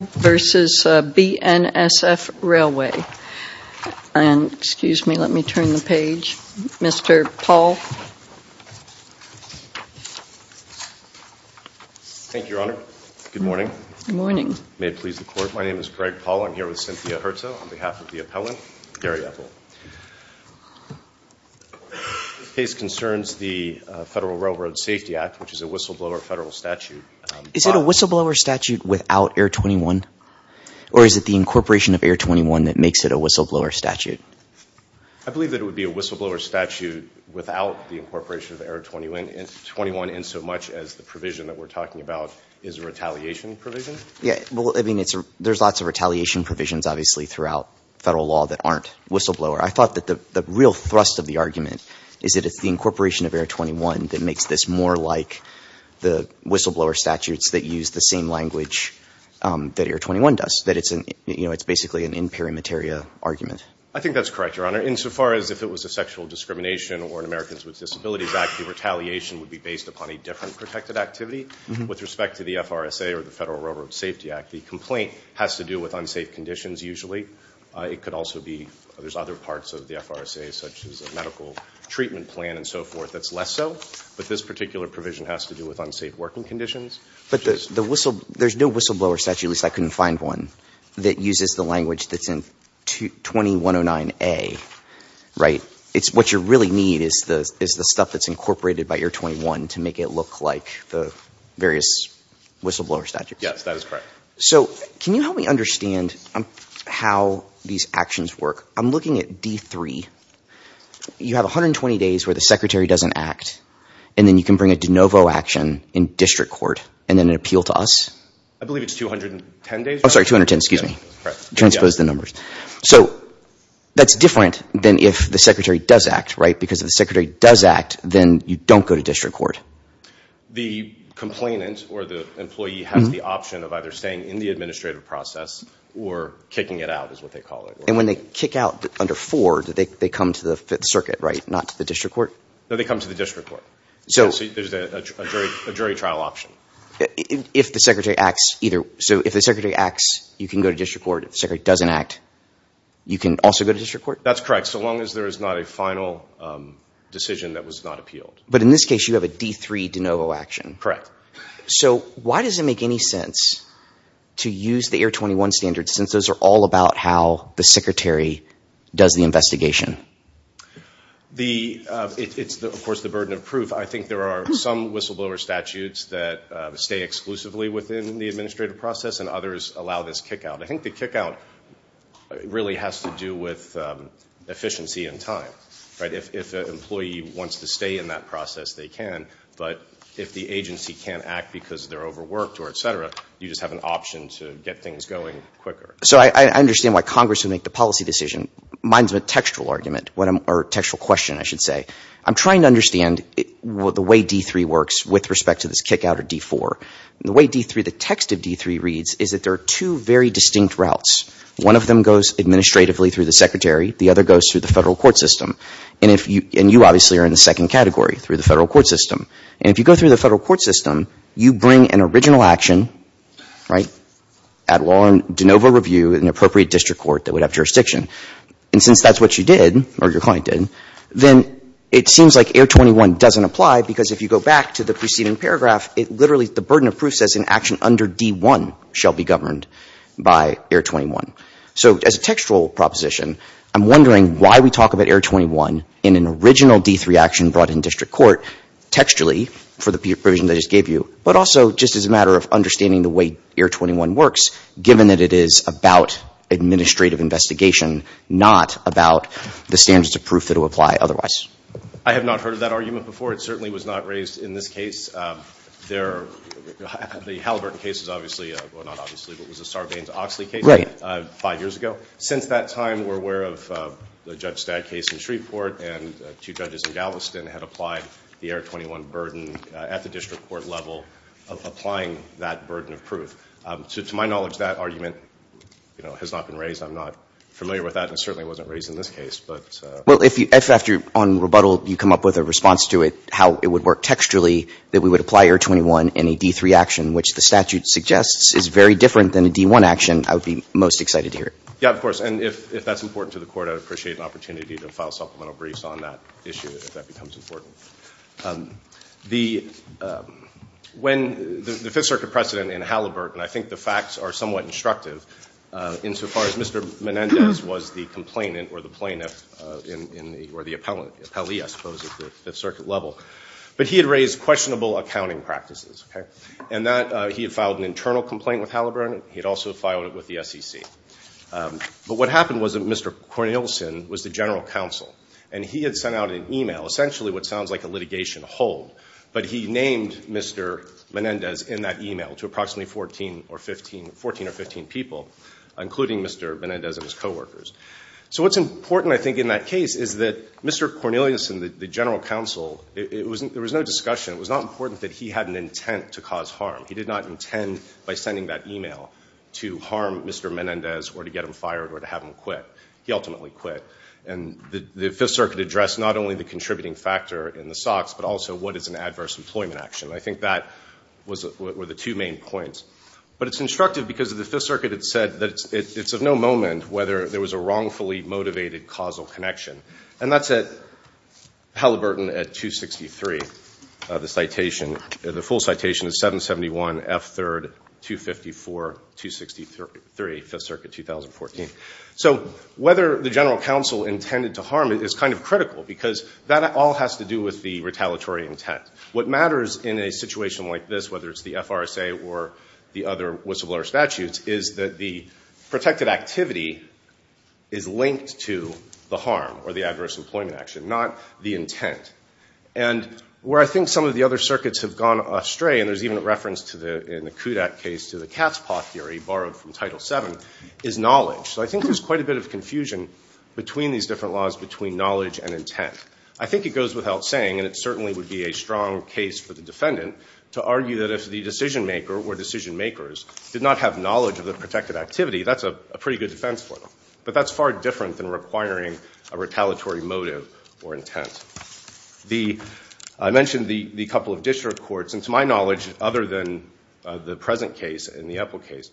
and excuse me, let me turn the page. Mr. Paul. Thank you, Your Honor. Good morning. Good morning. May it please the Court. My name is Greg Paul. I'm here with Cynthia Herzo on behalf of the appellant, Gary Epple. The case concerns the Federal Railroad Safety Act, which is a whistleblower federal statute. Is it a whistleblower statute without Air 21? Or is it the incorporation of Air 21 that makes it a whistleblower statute? I believe that it would be a whistleblower statute without the incorporation of Air 21 in so much as the provision that we're talking about is a retaliation provision. Yeah, well, I mean, there's lots of retaliation provisions, obviously, throughout federal law that aren't whistleblower. I thought that the real thrust of the argument is that it's the incorporation of Air 21 that makes this more like the whistleblower statutes that use the same language that Air 21 does. That it's basically an imperimetaria argument. I think that's correct, Your Honor. Insofar as if it was a sexual discrimination or an Americans with Disabilities Act, the retaliation would be based upon a different protected activity. With respect to the FRSA or the Federal Railroad Safety Act, the complaint has to do with unsafe conditions, usually. It could also be there's other parts of the FRSA, such as a medical treatment plan and so forth, that's less so. But this particular provision has to do with unsafe working conditions. But there's no whistleblower statute, at least I couldn't find one, that uses the language that's in 2109A, right? What you really need is the stuff that's incorporated by Air 21 to make it look like the various whistleblower statutes. Yes, that is correct. So can you help me understand how these actions work? I'm looking at D3. You have 120 days where the secretary doesn't act. And then you can bring a de novo action in district court and then an appeal to us? I believe it's 210 days. Oh, sorry, 210, excuse me. Transpose the numbers. So that's different than if the secretary does act, right? Because if the secretary does act, then you don't go to district court. The complainant or the employee has the option of either staying in the administrative process or kicking it out, is what they call it. And when they kick out under four, do they come to the circuit, right, not to the district court? No, they come to the district court. There's a jury trial option. So if the secretary acts, you can go to district court. If the secretary doesn't act, you can also go to district court? That's correct, so long as there is not a final decision that was not appealed. But in this case, you have a D3 de novo action. Correct. So why does it make any sense to use the Air 21 standards since those are all about how the secretary does the investigation? It's, of course, the burden of proof. I think there are some whistleblower statutes that stay exclusively within the administrative process and others allow this kick out. I think the kick out really has to do with efficiency and time. If an employee wants to stay in that process, they can. But if the agency can't act because they're overworked or et cetera, you just have an option to get things going quicker. So I understand why Congress would make the policy decision. Mine is a textual argument or textual question, I should say. I'm trying to understand the way D3 works with respect to this kick out of D4. The way D3, the text of D3 reads is that there are two very distinct routes. One of them goes administratively through the secretary. The other goes through the federal court system. And you obviously are in the second category through the federal court system. And if you go through the federal court system, you bring an original action, right, at law and de novo review in an appropriate district court that would have jurisdiction. And since that's what you did or your client did, then it seems like Air 21 doesn't apply because if you go back to the preceding paragraph, it literally, the burden of proof says an action under D1 shall be governed by Air 21. So as a textual proposition, I'm wondering why we talk about Air 21 in an original D3 action brought in district court, textually for the provision I just gave you, but also just as a matter of understanding the way Air 21 works, given that it is about administrative investigation, not about the standards of proof that will apply otherwise. I have not heard of that argument before. It certainly was not raised in this case. The Halliburton case is obviously, well, not obviously, but it was a Sarbanes-Oxley case five years ago. Since that time, we're aware of the Judge Stagg case in Shreveport, and two judges in Galveston had applied the Air 21 burden at the district court level of applying that burden of proof. To my knowledge, that argument has not been raised. I'm not familiar with that, and it certainly wasn't raised in this case. But ---- Well, if after, on rebuttal, you come up with a response to it, how it would work textually, that we would apply Air 21 in a D3 action, which the statute suggests is very different than a D1 action, I would be most excited to hear it. Yeah, of course. And if that's important to the Court, I would appreciate an opportunity to file supplemental briefs on that issue if that becomes important. The ---- when the Fifth Circuit precedent in Halliburton, I think the facts are somewhat instructive insofar as Mr. Menendez was the complainant or the plaintiff or the appellee, I suppose, at the Fifth Circuit level. But he had raised questionable accounting practices, okay? And that he had filed an internal complaint with Halliburton. He had also filed it with the SEC. But what happened was that Mr. Cornelison was the general counsel, and he had sent out an email, essentially what sounds like a litigation hold, but he named Mr. Menendez in that email to approximately 14 or 15 people, including Mr. Menendez and his coworkers. So what's important, I think, in that case is that Mr. Cornelison, the general counsel, there was no discussion. It was not important that he had an intent to cause harm. He did not intend by sending that email to harm Mr. Menendez or to get him fired or to have him quit. He ultimately quit. And the Fifth Circuit addressed not only the contributing factor in the SOX, but also what is an adverse employment action. I think that were the two main points. But it's instructive because the Fifth Circuit had said that it's of no moment whether there was a wrongfully motivated causal connection. And that's at Halliburton at 263. The full citation is 771 F. 3rd, 254, 263, Fifth Circuit, 2014. So whether the general counsel intended to harm is kind of critical because that all has to do with the retaliatory intent. What matters in a situation like this, whether it's the FRSA or the other whistleblower statutes, is that the protected activity is linked to the harm or the adverse employment action, not the intent. And where I think some of the other circuits have gone astray, and there's even a reference in the Kudak case to the cat's paw theory borrowed from Title VII, is knowledge. So I think there's quite a bit of confusion between these different laws, between knowledge and intent. I think it goes without saying, and it certainly would be a strong case for the defendant, to argue that if the decision maker or decision makers did not have knowledge of the protected activity, that's a pretty good defense for them. But that's far different than requiring a retaliatory motive or intent. I mentioned the couple of district courts. And to my knowledge, other than the present case and the Epple case,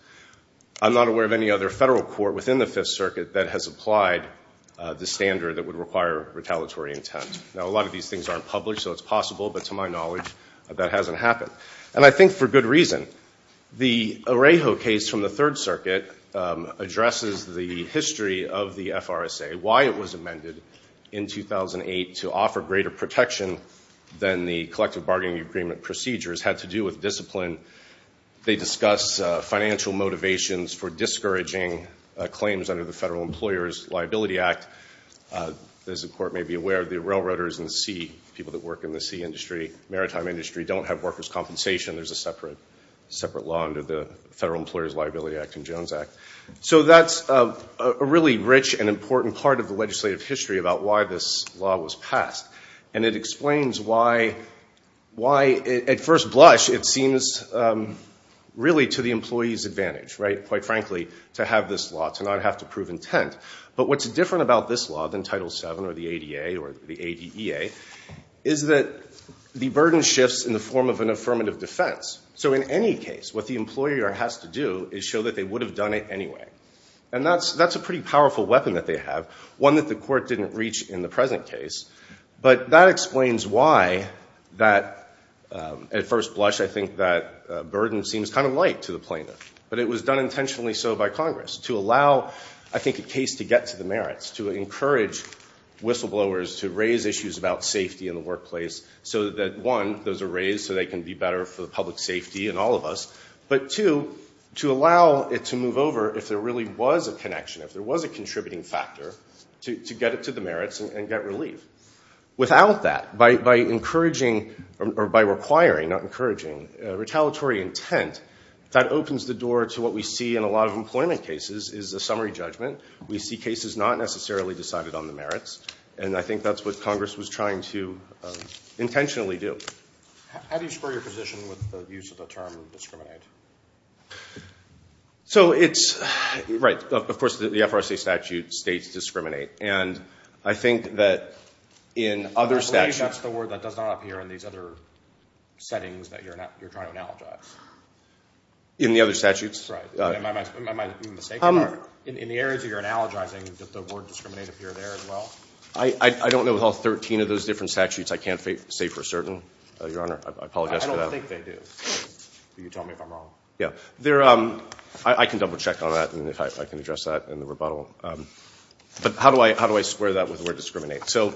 I'm not aware of any other federal court within the Fifth Circuit that has applied the standard that would require retaliatory intent. Now, a lot of these things aren't published, so it's possible, but to my knowledge, that hasn't happened. And I think for good reason. The Arejo case from the Third Circuit addresses the history of the FRSA, why it was amended in 2008 to offer greater protection than the collective bargaining agreement procedures, had to do with discipline. They discuss financial motivations for discouraging claims under the Federal Employers' Liability Act. As the court may be aware, the railroaders and the sea, people that work in the sea industry, maritime industry, don't have workers' compensation. There's a separate law under the Federal Employers' Liability Act and Jones Act. So that's a really rich and important part of the legislative history about why this law was passed. And it explains why, at first blush, it seems really to the employee's advantage, quite frankly, to have this law, to not have to prove intent. But what's different about this law than Title VII or the ADA or the ADEA, is that the burden shifts in the form of an affirmative defense. So in any case, what the employer has to do is show that they would have done it anyway. And that's a pretty powerful weapon that they have, one that the court didn't reach in the present case. But that explains why that, at first blush, I think that burden seems kind of light to the plaintiff. But it was done intentionally so by Congress to allow, I think, a case to get to the merits, to encourage whistleblowers to raise issues about safety in the workplace so that, one, those are raised so they can be better for the public safety and all of us, but, two, to allow it to move over if there really was a connection, if there was a contributing factor, to get it to the merits and get relief. Without that, by encouraging or by requiring, not encouraging, retaliatory intent, that opens the door to what we see in a lot of employment cases is a summary judgment. We see cases not necessarily decided on the merits. And I think that's what Congress was trying to intentionally do. How do you square your position with the use of the term discriminate? So it's, right, of course the FRSA statute states discriminate. And I think that in other statutes. I believe that's the word that does not appear in these other settings that you're trying to analogize. In the other statutes? Right. Am I mistaken? In the areas that you're analogizing, does the word discriminate appear there as well? I don't know of all 13 of those different statutes. I can't say for certain, Your Honor. I apologize for that. I don't think they do. You can tell me if I'm wrong. Yeah. I can double check on that and I can address that in the rebuttal. But how do I square that with the word discriminate? So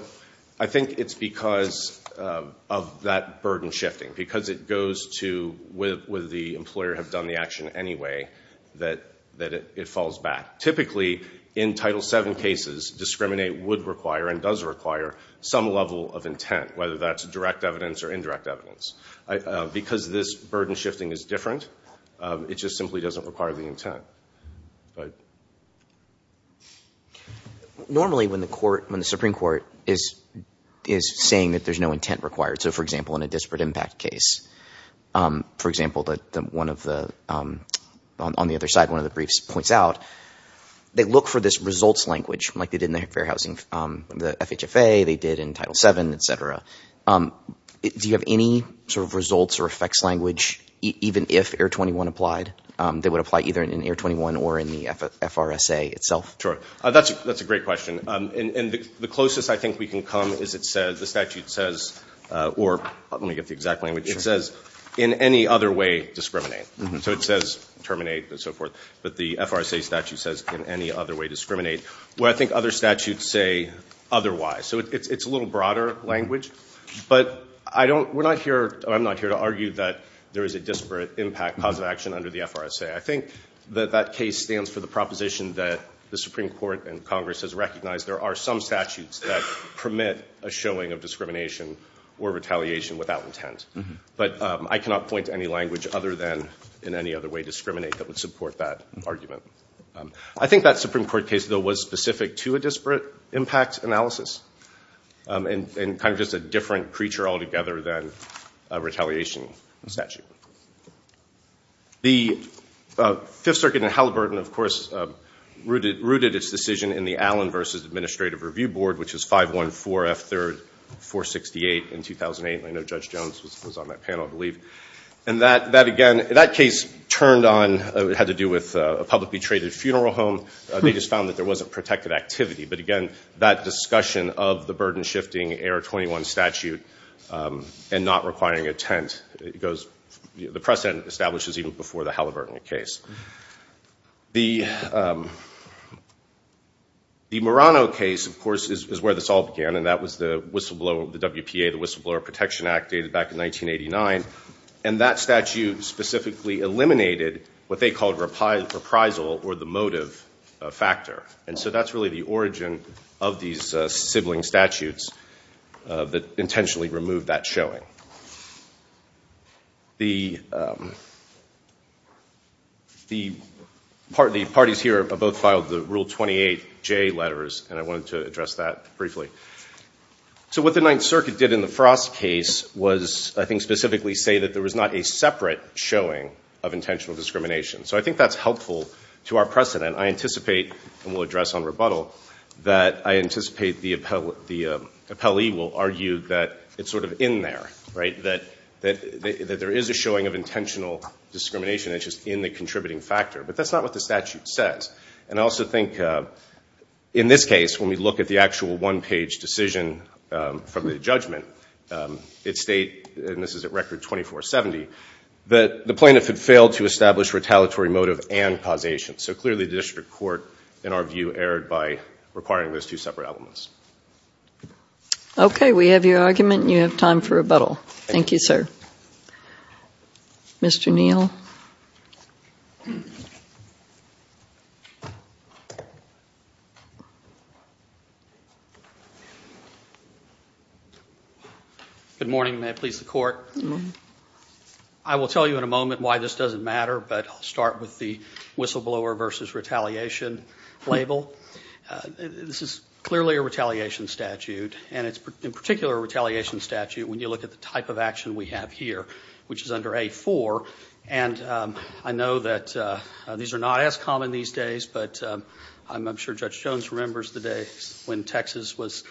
I think it's because of that burden shifting, because it goes to whether the employer have done the action anyway, that it falls back. Typically, in Title VII cases, discriminate would require and does require some level of intent, whether that's direct evidence or indirect evidence. Because this burden shifting is different, it just simply doesn't require the intent. Normally, when the Supreme Court is saying that there's no intent required, so, for example, in a disparate impact case, for example, on the other side, one of the briefs points out, they look for this results language like they did in the Fair Housing, the FHFA, they did in Title VII, et cetera. Do you have any sort of results or effects language, even if Air 21 applied, that would apply either in Air 21 or in the FRSA itself? Sure. That's a great question. And the closest I think we can come is the statute says, or let me get the exact language, it says in any other way discriminate. So it says terminate and so forth. But the FRSA statute says in any other way discriminate. What I think other statutes say otherwise. So it's a little broader language. But I'm not here to argue that there is a disparate impact positive action under the FRSA. I think that that case stands for the proposition that the Supreme Court and Congress has recognized there are some statutes that permit a showing of discrimination or retaliation without intent. But I cannot point to any language other than in any other way discriminate that would support that argument. I think that Supreme Court case, though, was specific to a disparate impact analysis and kind of just a different creature altogether than a retaliation statute. The Fifth Circuit in Halliburton, of course, rooted its decision in the Allen v. Administrative Review Board, which is 514F3-468 in 2008. And that, again, that case turned on, had to do with a publicly traded funeral home. They just found that there wasn't protected activity. But, again, that discussion of the burden-shifting AR-21 statute and not requiring intent goes, the precedent establishes even before the Halliburton case. The Murano case, of course, is where this all began, and that was the whistleblower, the WPA, the Whistleblower Protection Act, dated back in 1989. And that statute specifically eliminated what they called reprisal or the motive factor. And so that's really the origin of these sibling statutes that intentionally removed that showing. The parties here have both filed the Rule 28J letters, and I wanted to address that briefly. So what the Ninth Circuit did in the Frost case was, I think, specifically say that there was not a separate showing of intentional discrimination. So I think that's helpful to our precedent. I anticipate, and we'll address on rebuttal, that I anticipate the appellee will argue that it's sort of in there, right, that there is a showing of intentional discrimination, it's just in the contributing factor. But that's not what the statute says. And I also think in this case, when we look at the actual one-page decision from the judgment, it states, and this is at record 2470, that the plaintiff had failed to establish retaliatory motive and causation. So clearly the district court, in our view, erred by requiring those two separate elements. Okay. We have your argument, and you have time for rebuttal. Thank you, sir. Mr. Neal. Good morning. May it please the Court. I will tell you in a moment why this doesn't matter, but I'll start with the whistleblower versus retaliation label. This is clearly a retaliation statute, and it's in particular a retaliation statute when you look at the type of action we have here, which is under A-4, and I know that these are not as common these days, but I'm sure Judge Jones remembers the day when Texas was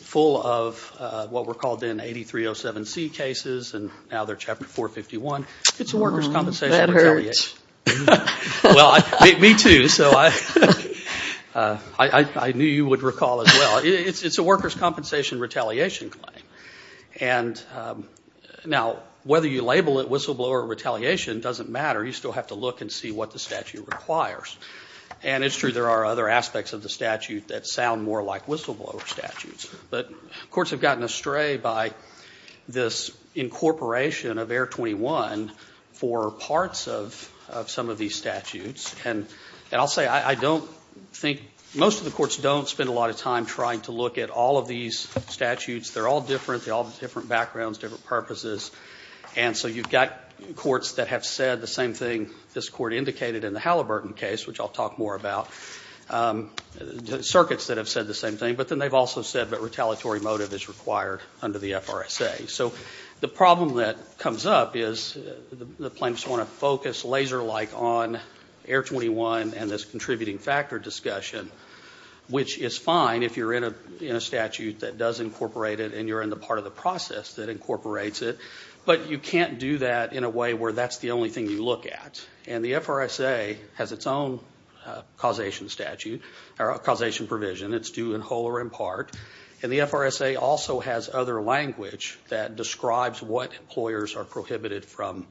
full of what were called then 8307C cases, and now they're Chapter 451. It's a workers' compensation retaliation. That hurts. Well, me too, so I knew you would recall as well. It's a workers' compensation retaliation claim. And now whether you label it whistleblower or retaliation doesn't matter. You still have to look and see what the statute requires. And it's true there are other aspects of the statute that sound more like whistleblower statutes, but courts have gotten astray by this incorporation of Air 21 for parts of some of these statutes, and I'll say I don't think most of the courts don't spend a lot of time trying to look at all of these statutes. They're all different. They all have different backgrounds, different purposes, and so you've got courts that have said the same thing this Court indicated in the Halliburton case, which I'll talk more about, circuits that have said the same thing, but then they've also said that retaliatory motive is required under the FRSA. So the problem that comes up is the plaintiffs want to focus laser-like on Air 21 and this contributing factor discussion, which is fine if you're in a statute that does incorporate it and you're in the part of the process that incorporates it, but you can't do that in a way where that's the only thing you look at. And the FRSA has its own causation provision. It's due in whole or in part, and the FRSA also has other language that describes what employers are prohibited from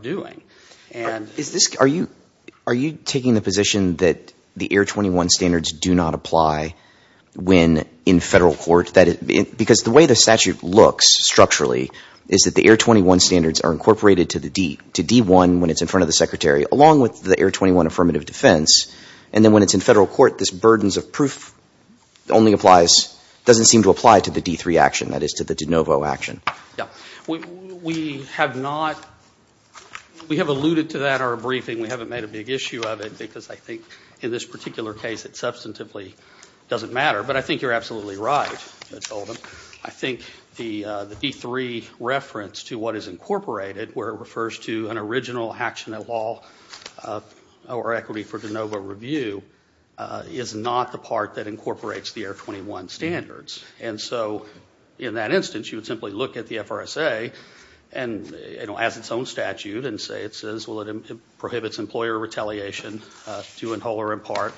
doing. Are you taking the position that the Air 21 standards do not apply when in federal court? Because the way the statute looks structurally is that the Air 21 standards are incorporated to D1 when it's in front of the Secretary along with the Air 21 affirmative defense, and then when it's in federal court, this burdens of proof only applies, doesn't seem to apply to the D3 action, that is to the de novo action. Yeah. We have not, we have alluded to that in our briefing. We haven't made a big issue of it because I think in this particular case it substantively doesn't matter, but I think you're absolutely right. I think the D3 reference to what is incorporated where it refers to an original action at all or equity for de novo review is not the part that incorporates the Air 21 standards. And so in that instance, you would simply look at the FRSA and, you know, as its own statute and say it says, well, it prohibits employer retaliation due in whole or in part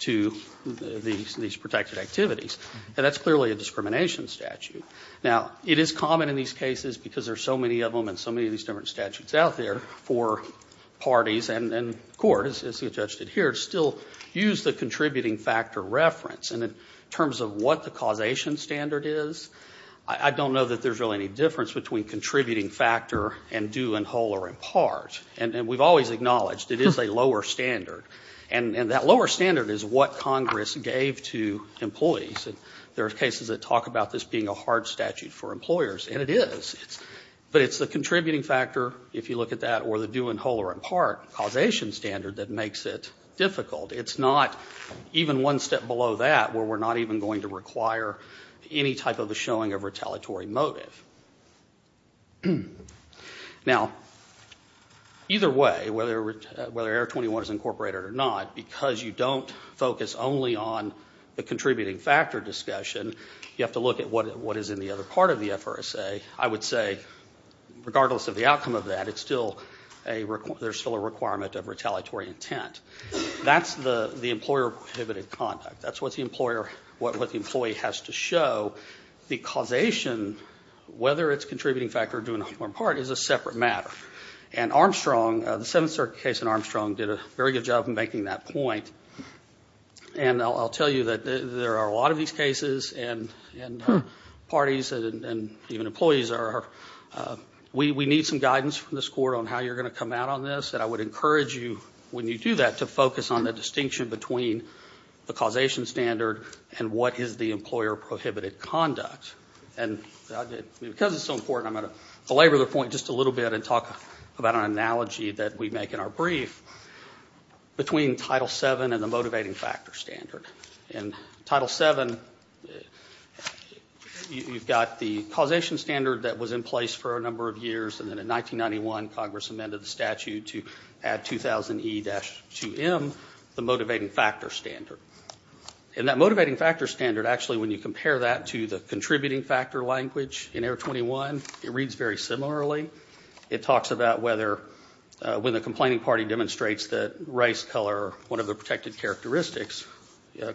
to these protected activities. And that's clearly a discrimination statute. Now, it is common in these cases because there are so many of them and so many of these different statutes out there for parties and courts, as you just did here, still use the contributing factor reference. And in terms of what the causation standard is, I don't know that there's really any difference between contributing factor and due in whole or in part. And we've always acknowledged it is a lower standard. And that lower standard is what Congress gave to employees. There are cases that talk about this being a hard statute for employers, and it is. But it's the contributing factor, if you look at that, or the due in whole or in part causation standard that makes it difficult. It's not even one step below that where we're not even going to require any type of a showing of retaliatory motive. Now, either way, whether Air 21 is incorporated or not, because you don't focus only on the contributing factor discussion, you have to look at what is in the other part of the FRSA. I would say, regardless of the outcome of that, there's still a requirement of retaliatory intent. That's the employer-prohibited conduct. That's what the employee has to show. The causation, whether it's contributing factor or due in whole or in part, is a separate matter. And Armstrong, the Seventh Circuit case in Armstrong, did a very good job in making that point. And I'll tell you that there are a lot of these cases, and parties and even employees, we need some guidance from this Court on how you're going to come out on this. And I would encourage you, when you do that, to focus on the distinction between the causation standard and what is the employer-prohibited conduct. And because it's so important, I'm going to belabor the point just a little bit and talk about an analogy that we make in our brief. Between Title VII and the motivating factor standard. In Title VII, you've got the causation standard that was in place for a number of years, and then in 1991, Congress amended the statute to add 2000E-2M, the motivating factor standard. And that motivating factor standard, actually, when you compare that to the contributing factor language in Air 21, it reads very similarly. It talks about whether, when the complaining party demonstrates that race, color, one of the protected characteristics,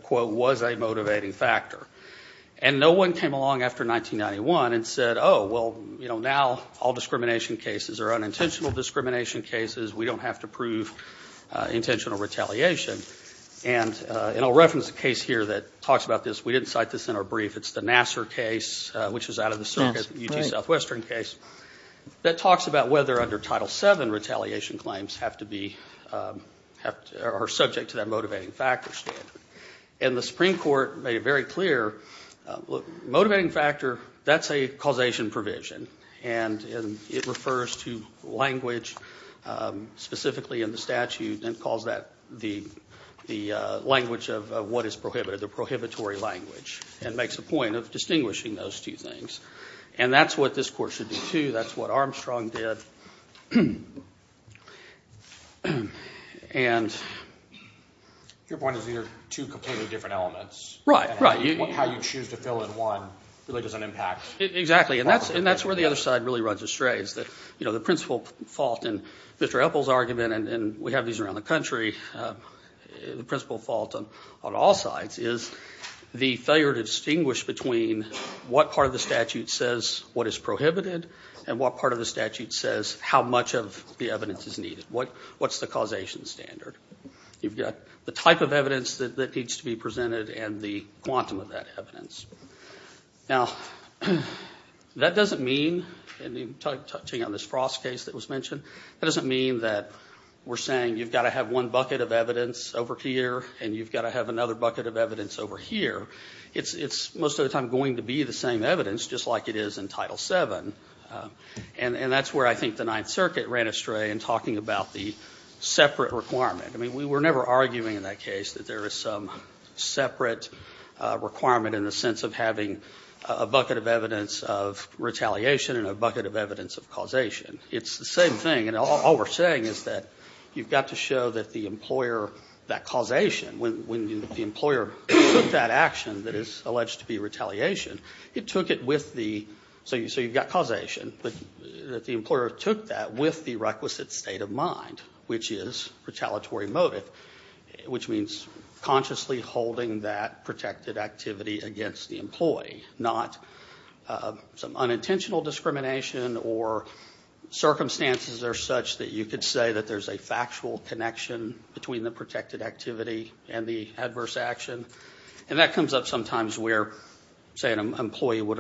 quote, was a motivating factor. And no one came along after 1991 and said, oh, well, you know, now all discrimination cases are unintentional discrimination cases. We don't have to prove intentional retaliation. And I'll reference a case here that talks about this. We didn't cite this in our brief. It's the Nassar case, which is out of the circuit, the UT Southwestern case, that talks about whether under Title VII retaliation claims have to be or are subject to that motivating factor standard. And the Supreme Court made it very clear, look, motivating factor, that's a causation provision, and it refers to language specifically in the statute and calls that the language of what is prohibited, the prohibitory language, and makes a point of distinguishing those two things. And that's what this court should do, too. That's what Armstrong did. Your point is either two completely different elements. Right, right. How you choose to fill in one really doesn't impact. Exactly, and that's where the other side really runs astray. The principal fault in Mr. Epple's argument, and we have these around the country, the principal fault on all sides is the failure to distinguish between what part of the statute says what is prohibited and what part of the statute says how much of the evidence is needed. What's the causation standard? You've got the type of evidence that needs to be presented and the quantum of that evidence. Now, that doesn't mean, touching on this Frost case that was mentioned, that doesn't mean that we're saying you've got to have one bucket of evidence over here and you've got to have another bucket of evidence over here. It's most of the time going to be the same evidence, just like it is in Title VII, and that's where I think the Ninth Circuit ran astray in talking about the separate requirement. I mean, we were never arguing in that case that there was some separate requirement in the sense of having a bucket of evidence of retaliation and a bucket of evidence of causation. It's the same thing, and all we're saying is that you've got to show that the employer, that causation, when the employer took that action that is alleged to be retaliation, it took it with the, so you've got causation, but the employer took that with the requisite state of mind, which is retaliatory motive, which means consciously holding that protected activity against the employee, not some unintentional discrimination or circumstances are such that you could say that there's a factual connection between the protected activity and the adverse action. And that comes up sometimes where, say, an employee would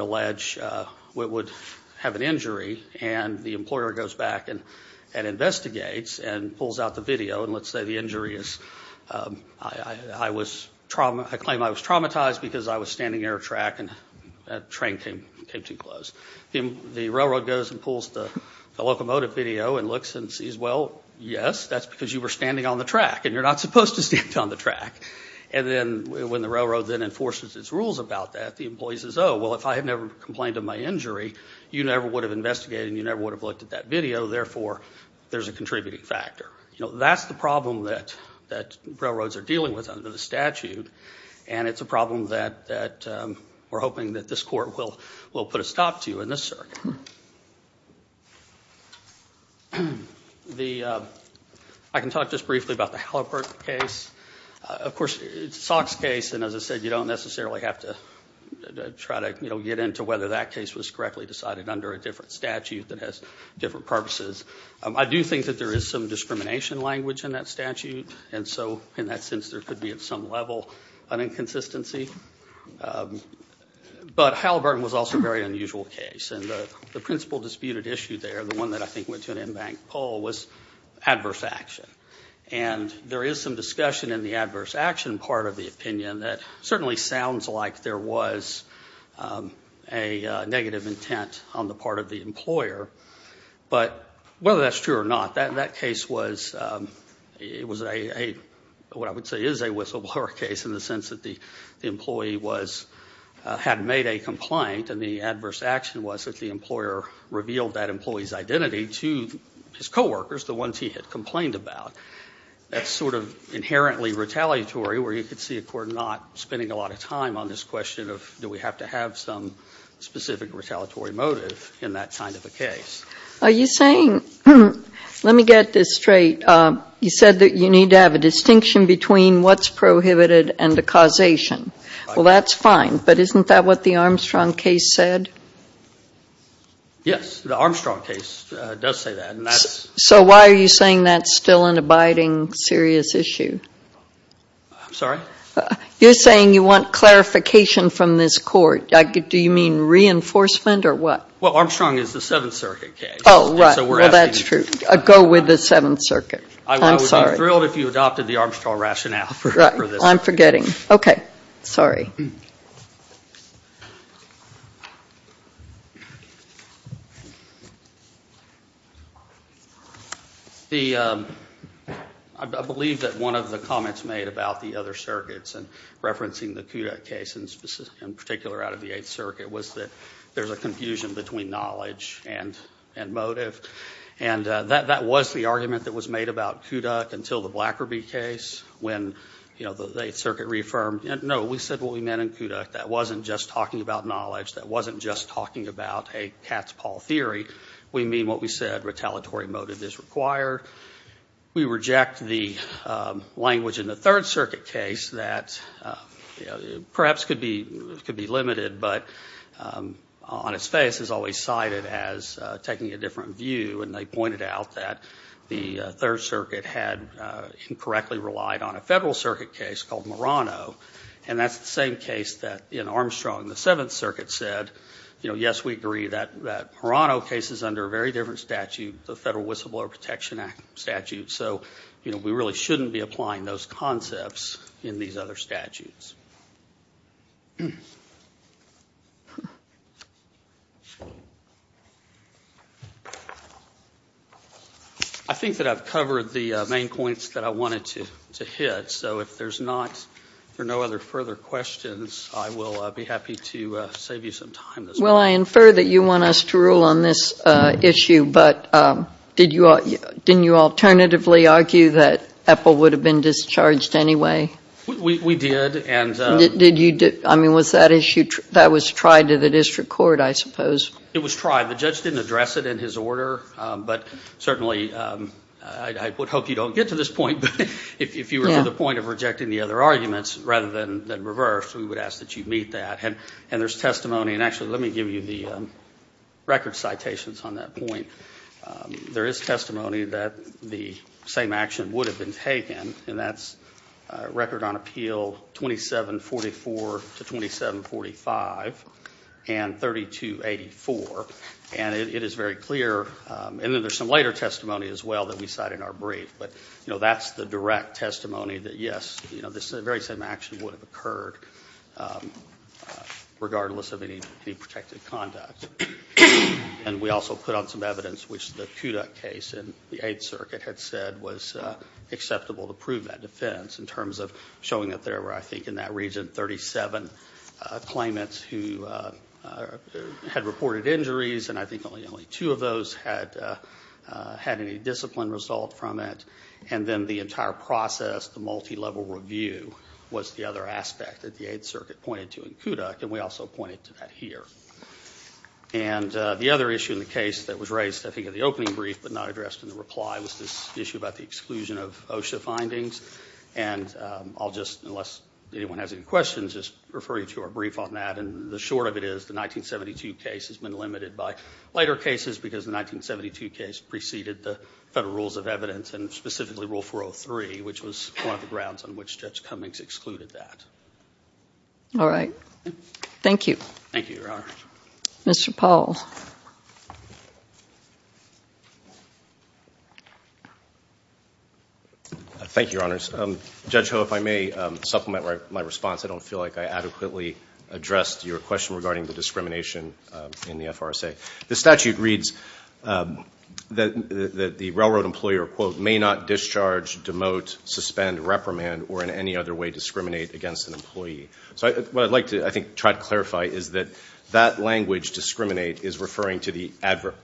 have an injury, and the employer goes back and investigates and pulls out the video, and let's say the injury is, I claim I was traumatized because I was standing near a track and that train came too close. The railroad goes and pulls the locomotive video and looks and sees, well, yes, that's because you were standing on the track, and you're not supposed to stand on the track. And then when the railroad then enforces its rules about that, the employee says, oh, well, if I had never complained of my injury, you never would have investigated, and you never would have looked at that video, therefore there's a contributing factor. You know, that's the problem that railroads are dealing with under the statute, and it's a problem that we're hoping that this Court will put a stop to in this circuit. I can talk just briefly about the Halliburton case. Of course, it's a SOX case, and as I said, you don't necessarily have to try to, you know, get into whether that case was correctly decided under a different statute that has different purposes. I do think that there is some discrimination language in that statute, and so in that sense there could be at some level an inconsistency. But Halliburton was also a very unusual case, and the principal disputed issue there, the one that I think went to an embanked poll, was adverse action. And there is some discussion in the adverse action part of the opinion that certainly sounds like there was a negative intent on the part of the employer, but whether that's true or not, that case was a, what I would say is a whistleblower case in the sense that the employee had made a complaint, and the adverse action was that the employer revealed that employee's identity to his coworkers, the ones he had complained about. That's sort of inherently retaliatory, where you could see a court not spending a lot of time on this question of do we have to have some specific retaliatory motive in that kind of a case. Are you saying, let me get this straight, you said that you need to have a distinction between what's prohibited and the causation. Well, that's fine, but isn't that what the Armstrong case said? Yes, the Armstrong case does say that. So why are you saying that's still an abiding serious issue? I'm sorry? You're saying you want clarification from this court. Do you mean reinforcement or what? Well, Armstrong is the Seventh Circuit case. Oh, right. Well, that's true. Go with the Seventh Circuit. I'm sorry. I would be thrilled if you adopted the Armstrong rationale for this. I'm forgetting. Okay. Sorry. I believe that one of the comments made about the other circuits and referencing the Kudak case in particular out of the Eighth Circuit was that there's a confusion between knowledge and motive. And that was the argument that was made about Kudak until the Blackerby case when the Eighth Circuit reaffirmed. No, we said what we meant in Kudak. That wasn't just talking about knowledge. That wasn't just talking about a cat's paw theory. We mean what we said, retaliatory motive is required. We reject the language in the Third Circuit case that perhaps could be limited, but on its face is always cited as taking a different view. And they pointed out that the Third Circuit had incorrectly relied on And that's the same case that in Armstrong the Seventh Circuit said, yes, we agree that Perano case is under a very different statute, the Federal Whistleblower Protection Act statute. So we really shouldn't be applying those concepts in these other statutes. I think that I've covered the main points that I wanted to hit. So if there's no other further questions, I will be happy to save you some time. Well, I infer that you want us to rule on this issue, but didn't you alternatively argue that Epple would have been discharged anyway? We did. I mean, was that issue, that was tried to the district court, I suppose. It was tried. The judge didn't address it in his order, but certainly I would hope you don't get to this point. If you were to the point of rejecting the other arguments rather than reverse, we would ask that you meet that. And there's testimony, and actually let me give you the record citations on that point. There is testimony that the same action would have been taken, and that's record on appeal 2744 to 2745 and 3284. And it is very clear. And then there's some later testimony as well that we cite in our brief. But, you know, that's the direct testimony that, yes, this very same action would have occurred regardless of any protected conduct. And we also put on some evidence which the Kudak case and the Eighth Circuit had said was acceptable to prove that defense in terms of showing that there were, I think, in that region, 37 claimants who had reported injuries, and I think only two of those had any discipline result from it. And then the entire process, the multilevel review, was the other aspect that the Eighth Circuit pointed to in Kudak, and we also pointed to that here. And the other issue in the case that was raised, I think, in the opening brief but not addressed in the reply was this issue about the exclusion of OSHA findings. And I'll just, unless anyone has any questions, just refer you to our brief on that. And the short of it is the 1972 case has been limited by later cases because the 1972 case preceded the Federal Rules of Evidence and specifically Rule 403, which was one of the grounds on which Judge Cummings excluded that. All right. Thank you. Thank you, Your Honor. Mr. Paul. Thank you, Your Honors. Judge Ho, if I may supplement my response. I don't feel like I adequately addressed your question regarding the discrimination in the FRSA. The statute reads that the railroad employer, quote, may not discharge, demote, suspend, reprimand, or in any other way discriminate against an employee. So what I'd like to, I think, try to clarify is that that language, discriminate, is referring to the other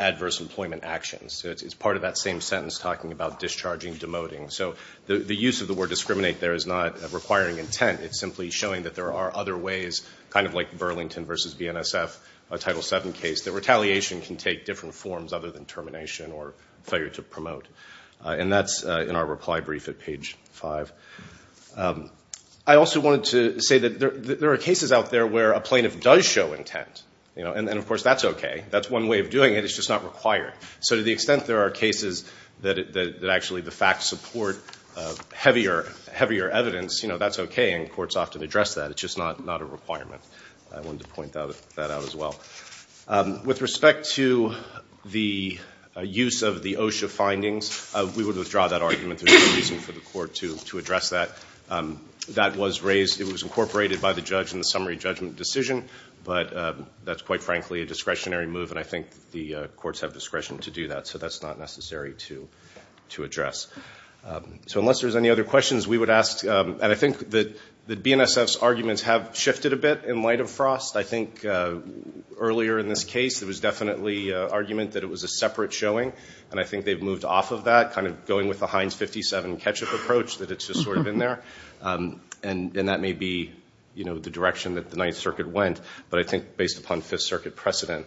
adverse employment actions. It's part of that same sentence talking about discharging, demoting. So the use of the word discriminate there is not requiring intent. It's simply showing that there are other ways, kind of like Burlington v. BNSF, a Title VII case, that retaliation can take different forms other than termination or failure to promote. And that's in our reply brief at page 5. I also wanted to say that there are cases out there where a plaintiff does show intent. And, of course, that's okay. That's one way of doing it. It's just not required. So to the extent there are cases that actually the facts support heavier evidence, that's okay, and courts often address that. It's just not a requirement. I wanted to point that out as well. With respect to the use of the OSHA findings, we would withdraw that argument. There's no reason for the court to address that. It was incorporated by the judge in the summary judgment decision, but that's quite frankly a discretionary move, and I think the courts have discretion to do that. So that's not necessary to address. So unless there's any other questions, we would ask. And I think that BNSF's arguments have shifted a bit in light of Frost. I think earlier in this case it was definitely an argument that it was a separate showing, and I think they've moved off of that, kind of going with the Heinz 57 ketchup approach, that it's just sort of in there. And that may be the direction that the Ninth Circuit went, but I think based upon Fifth Circuit precedent,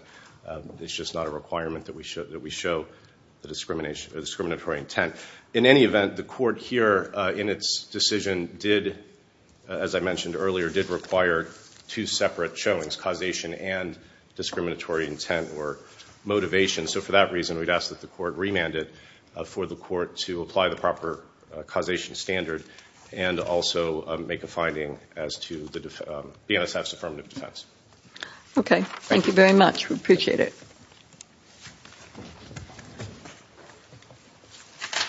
it's just not a requirement that we show the discriminatory intent. In any event, the court here in its decision did, as I mentioned earlier, did require two separate showings, causation and discriminatory intent or motivation. So for that reason, we'd ask that the court remand it for the court to apply the proper causation standard and also make a finding as to BNSF's affirmative defense. Okay, thank you very much. We appreciate it.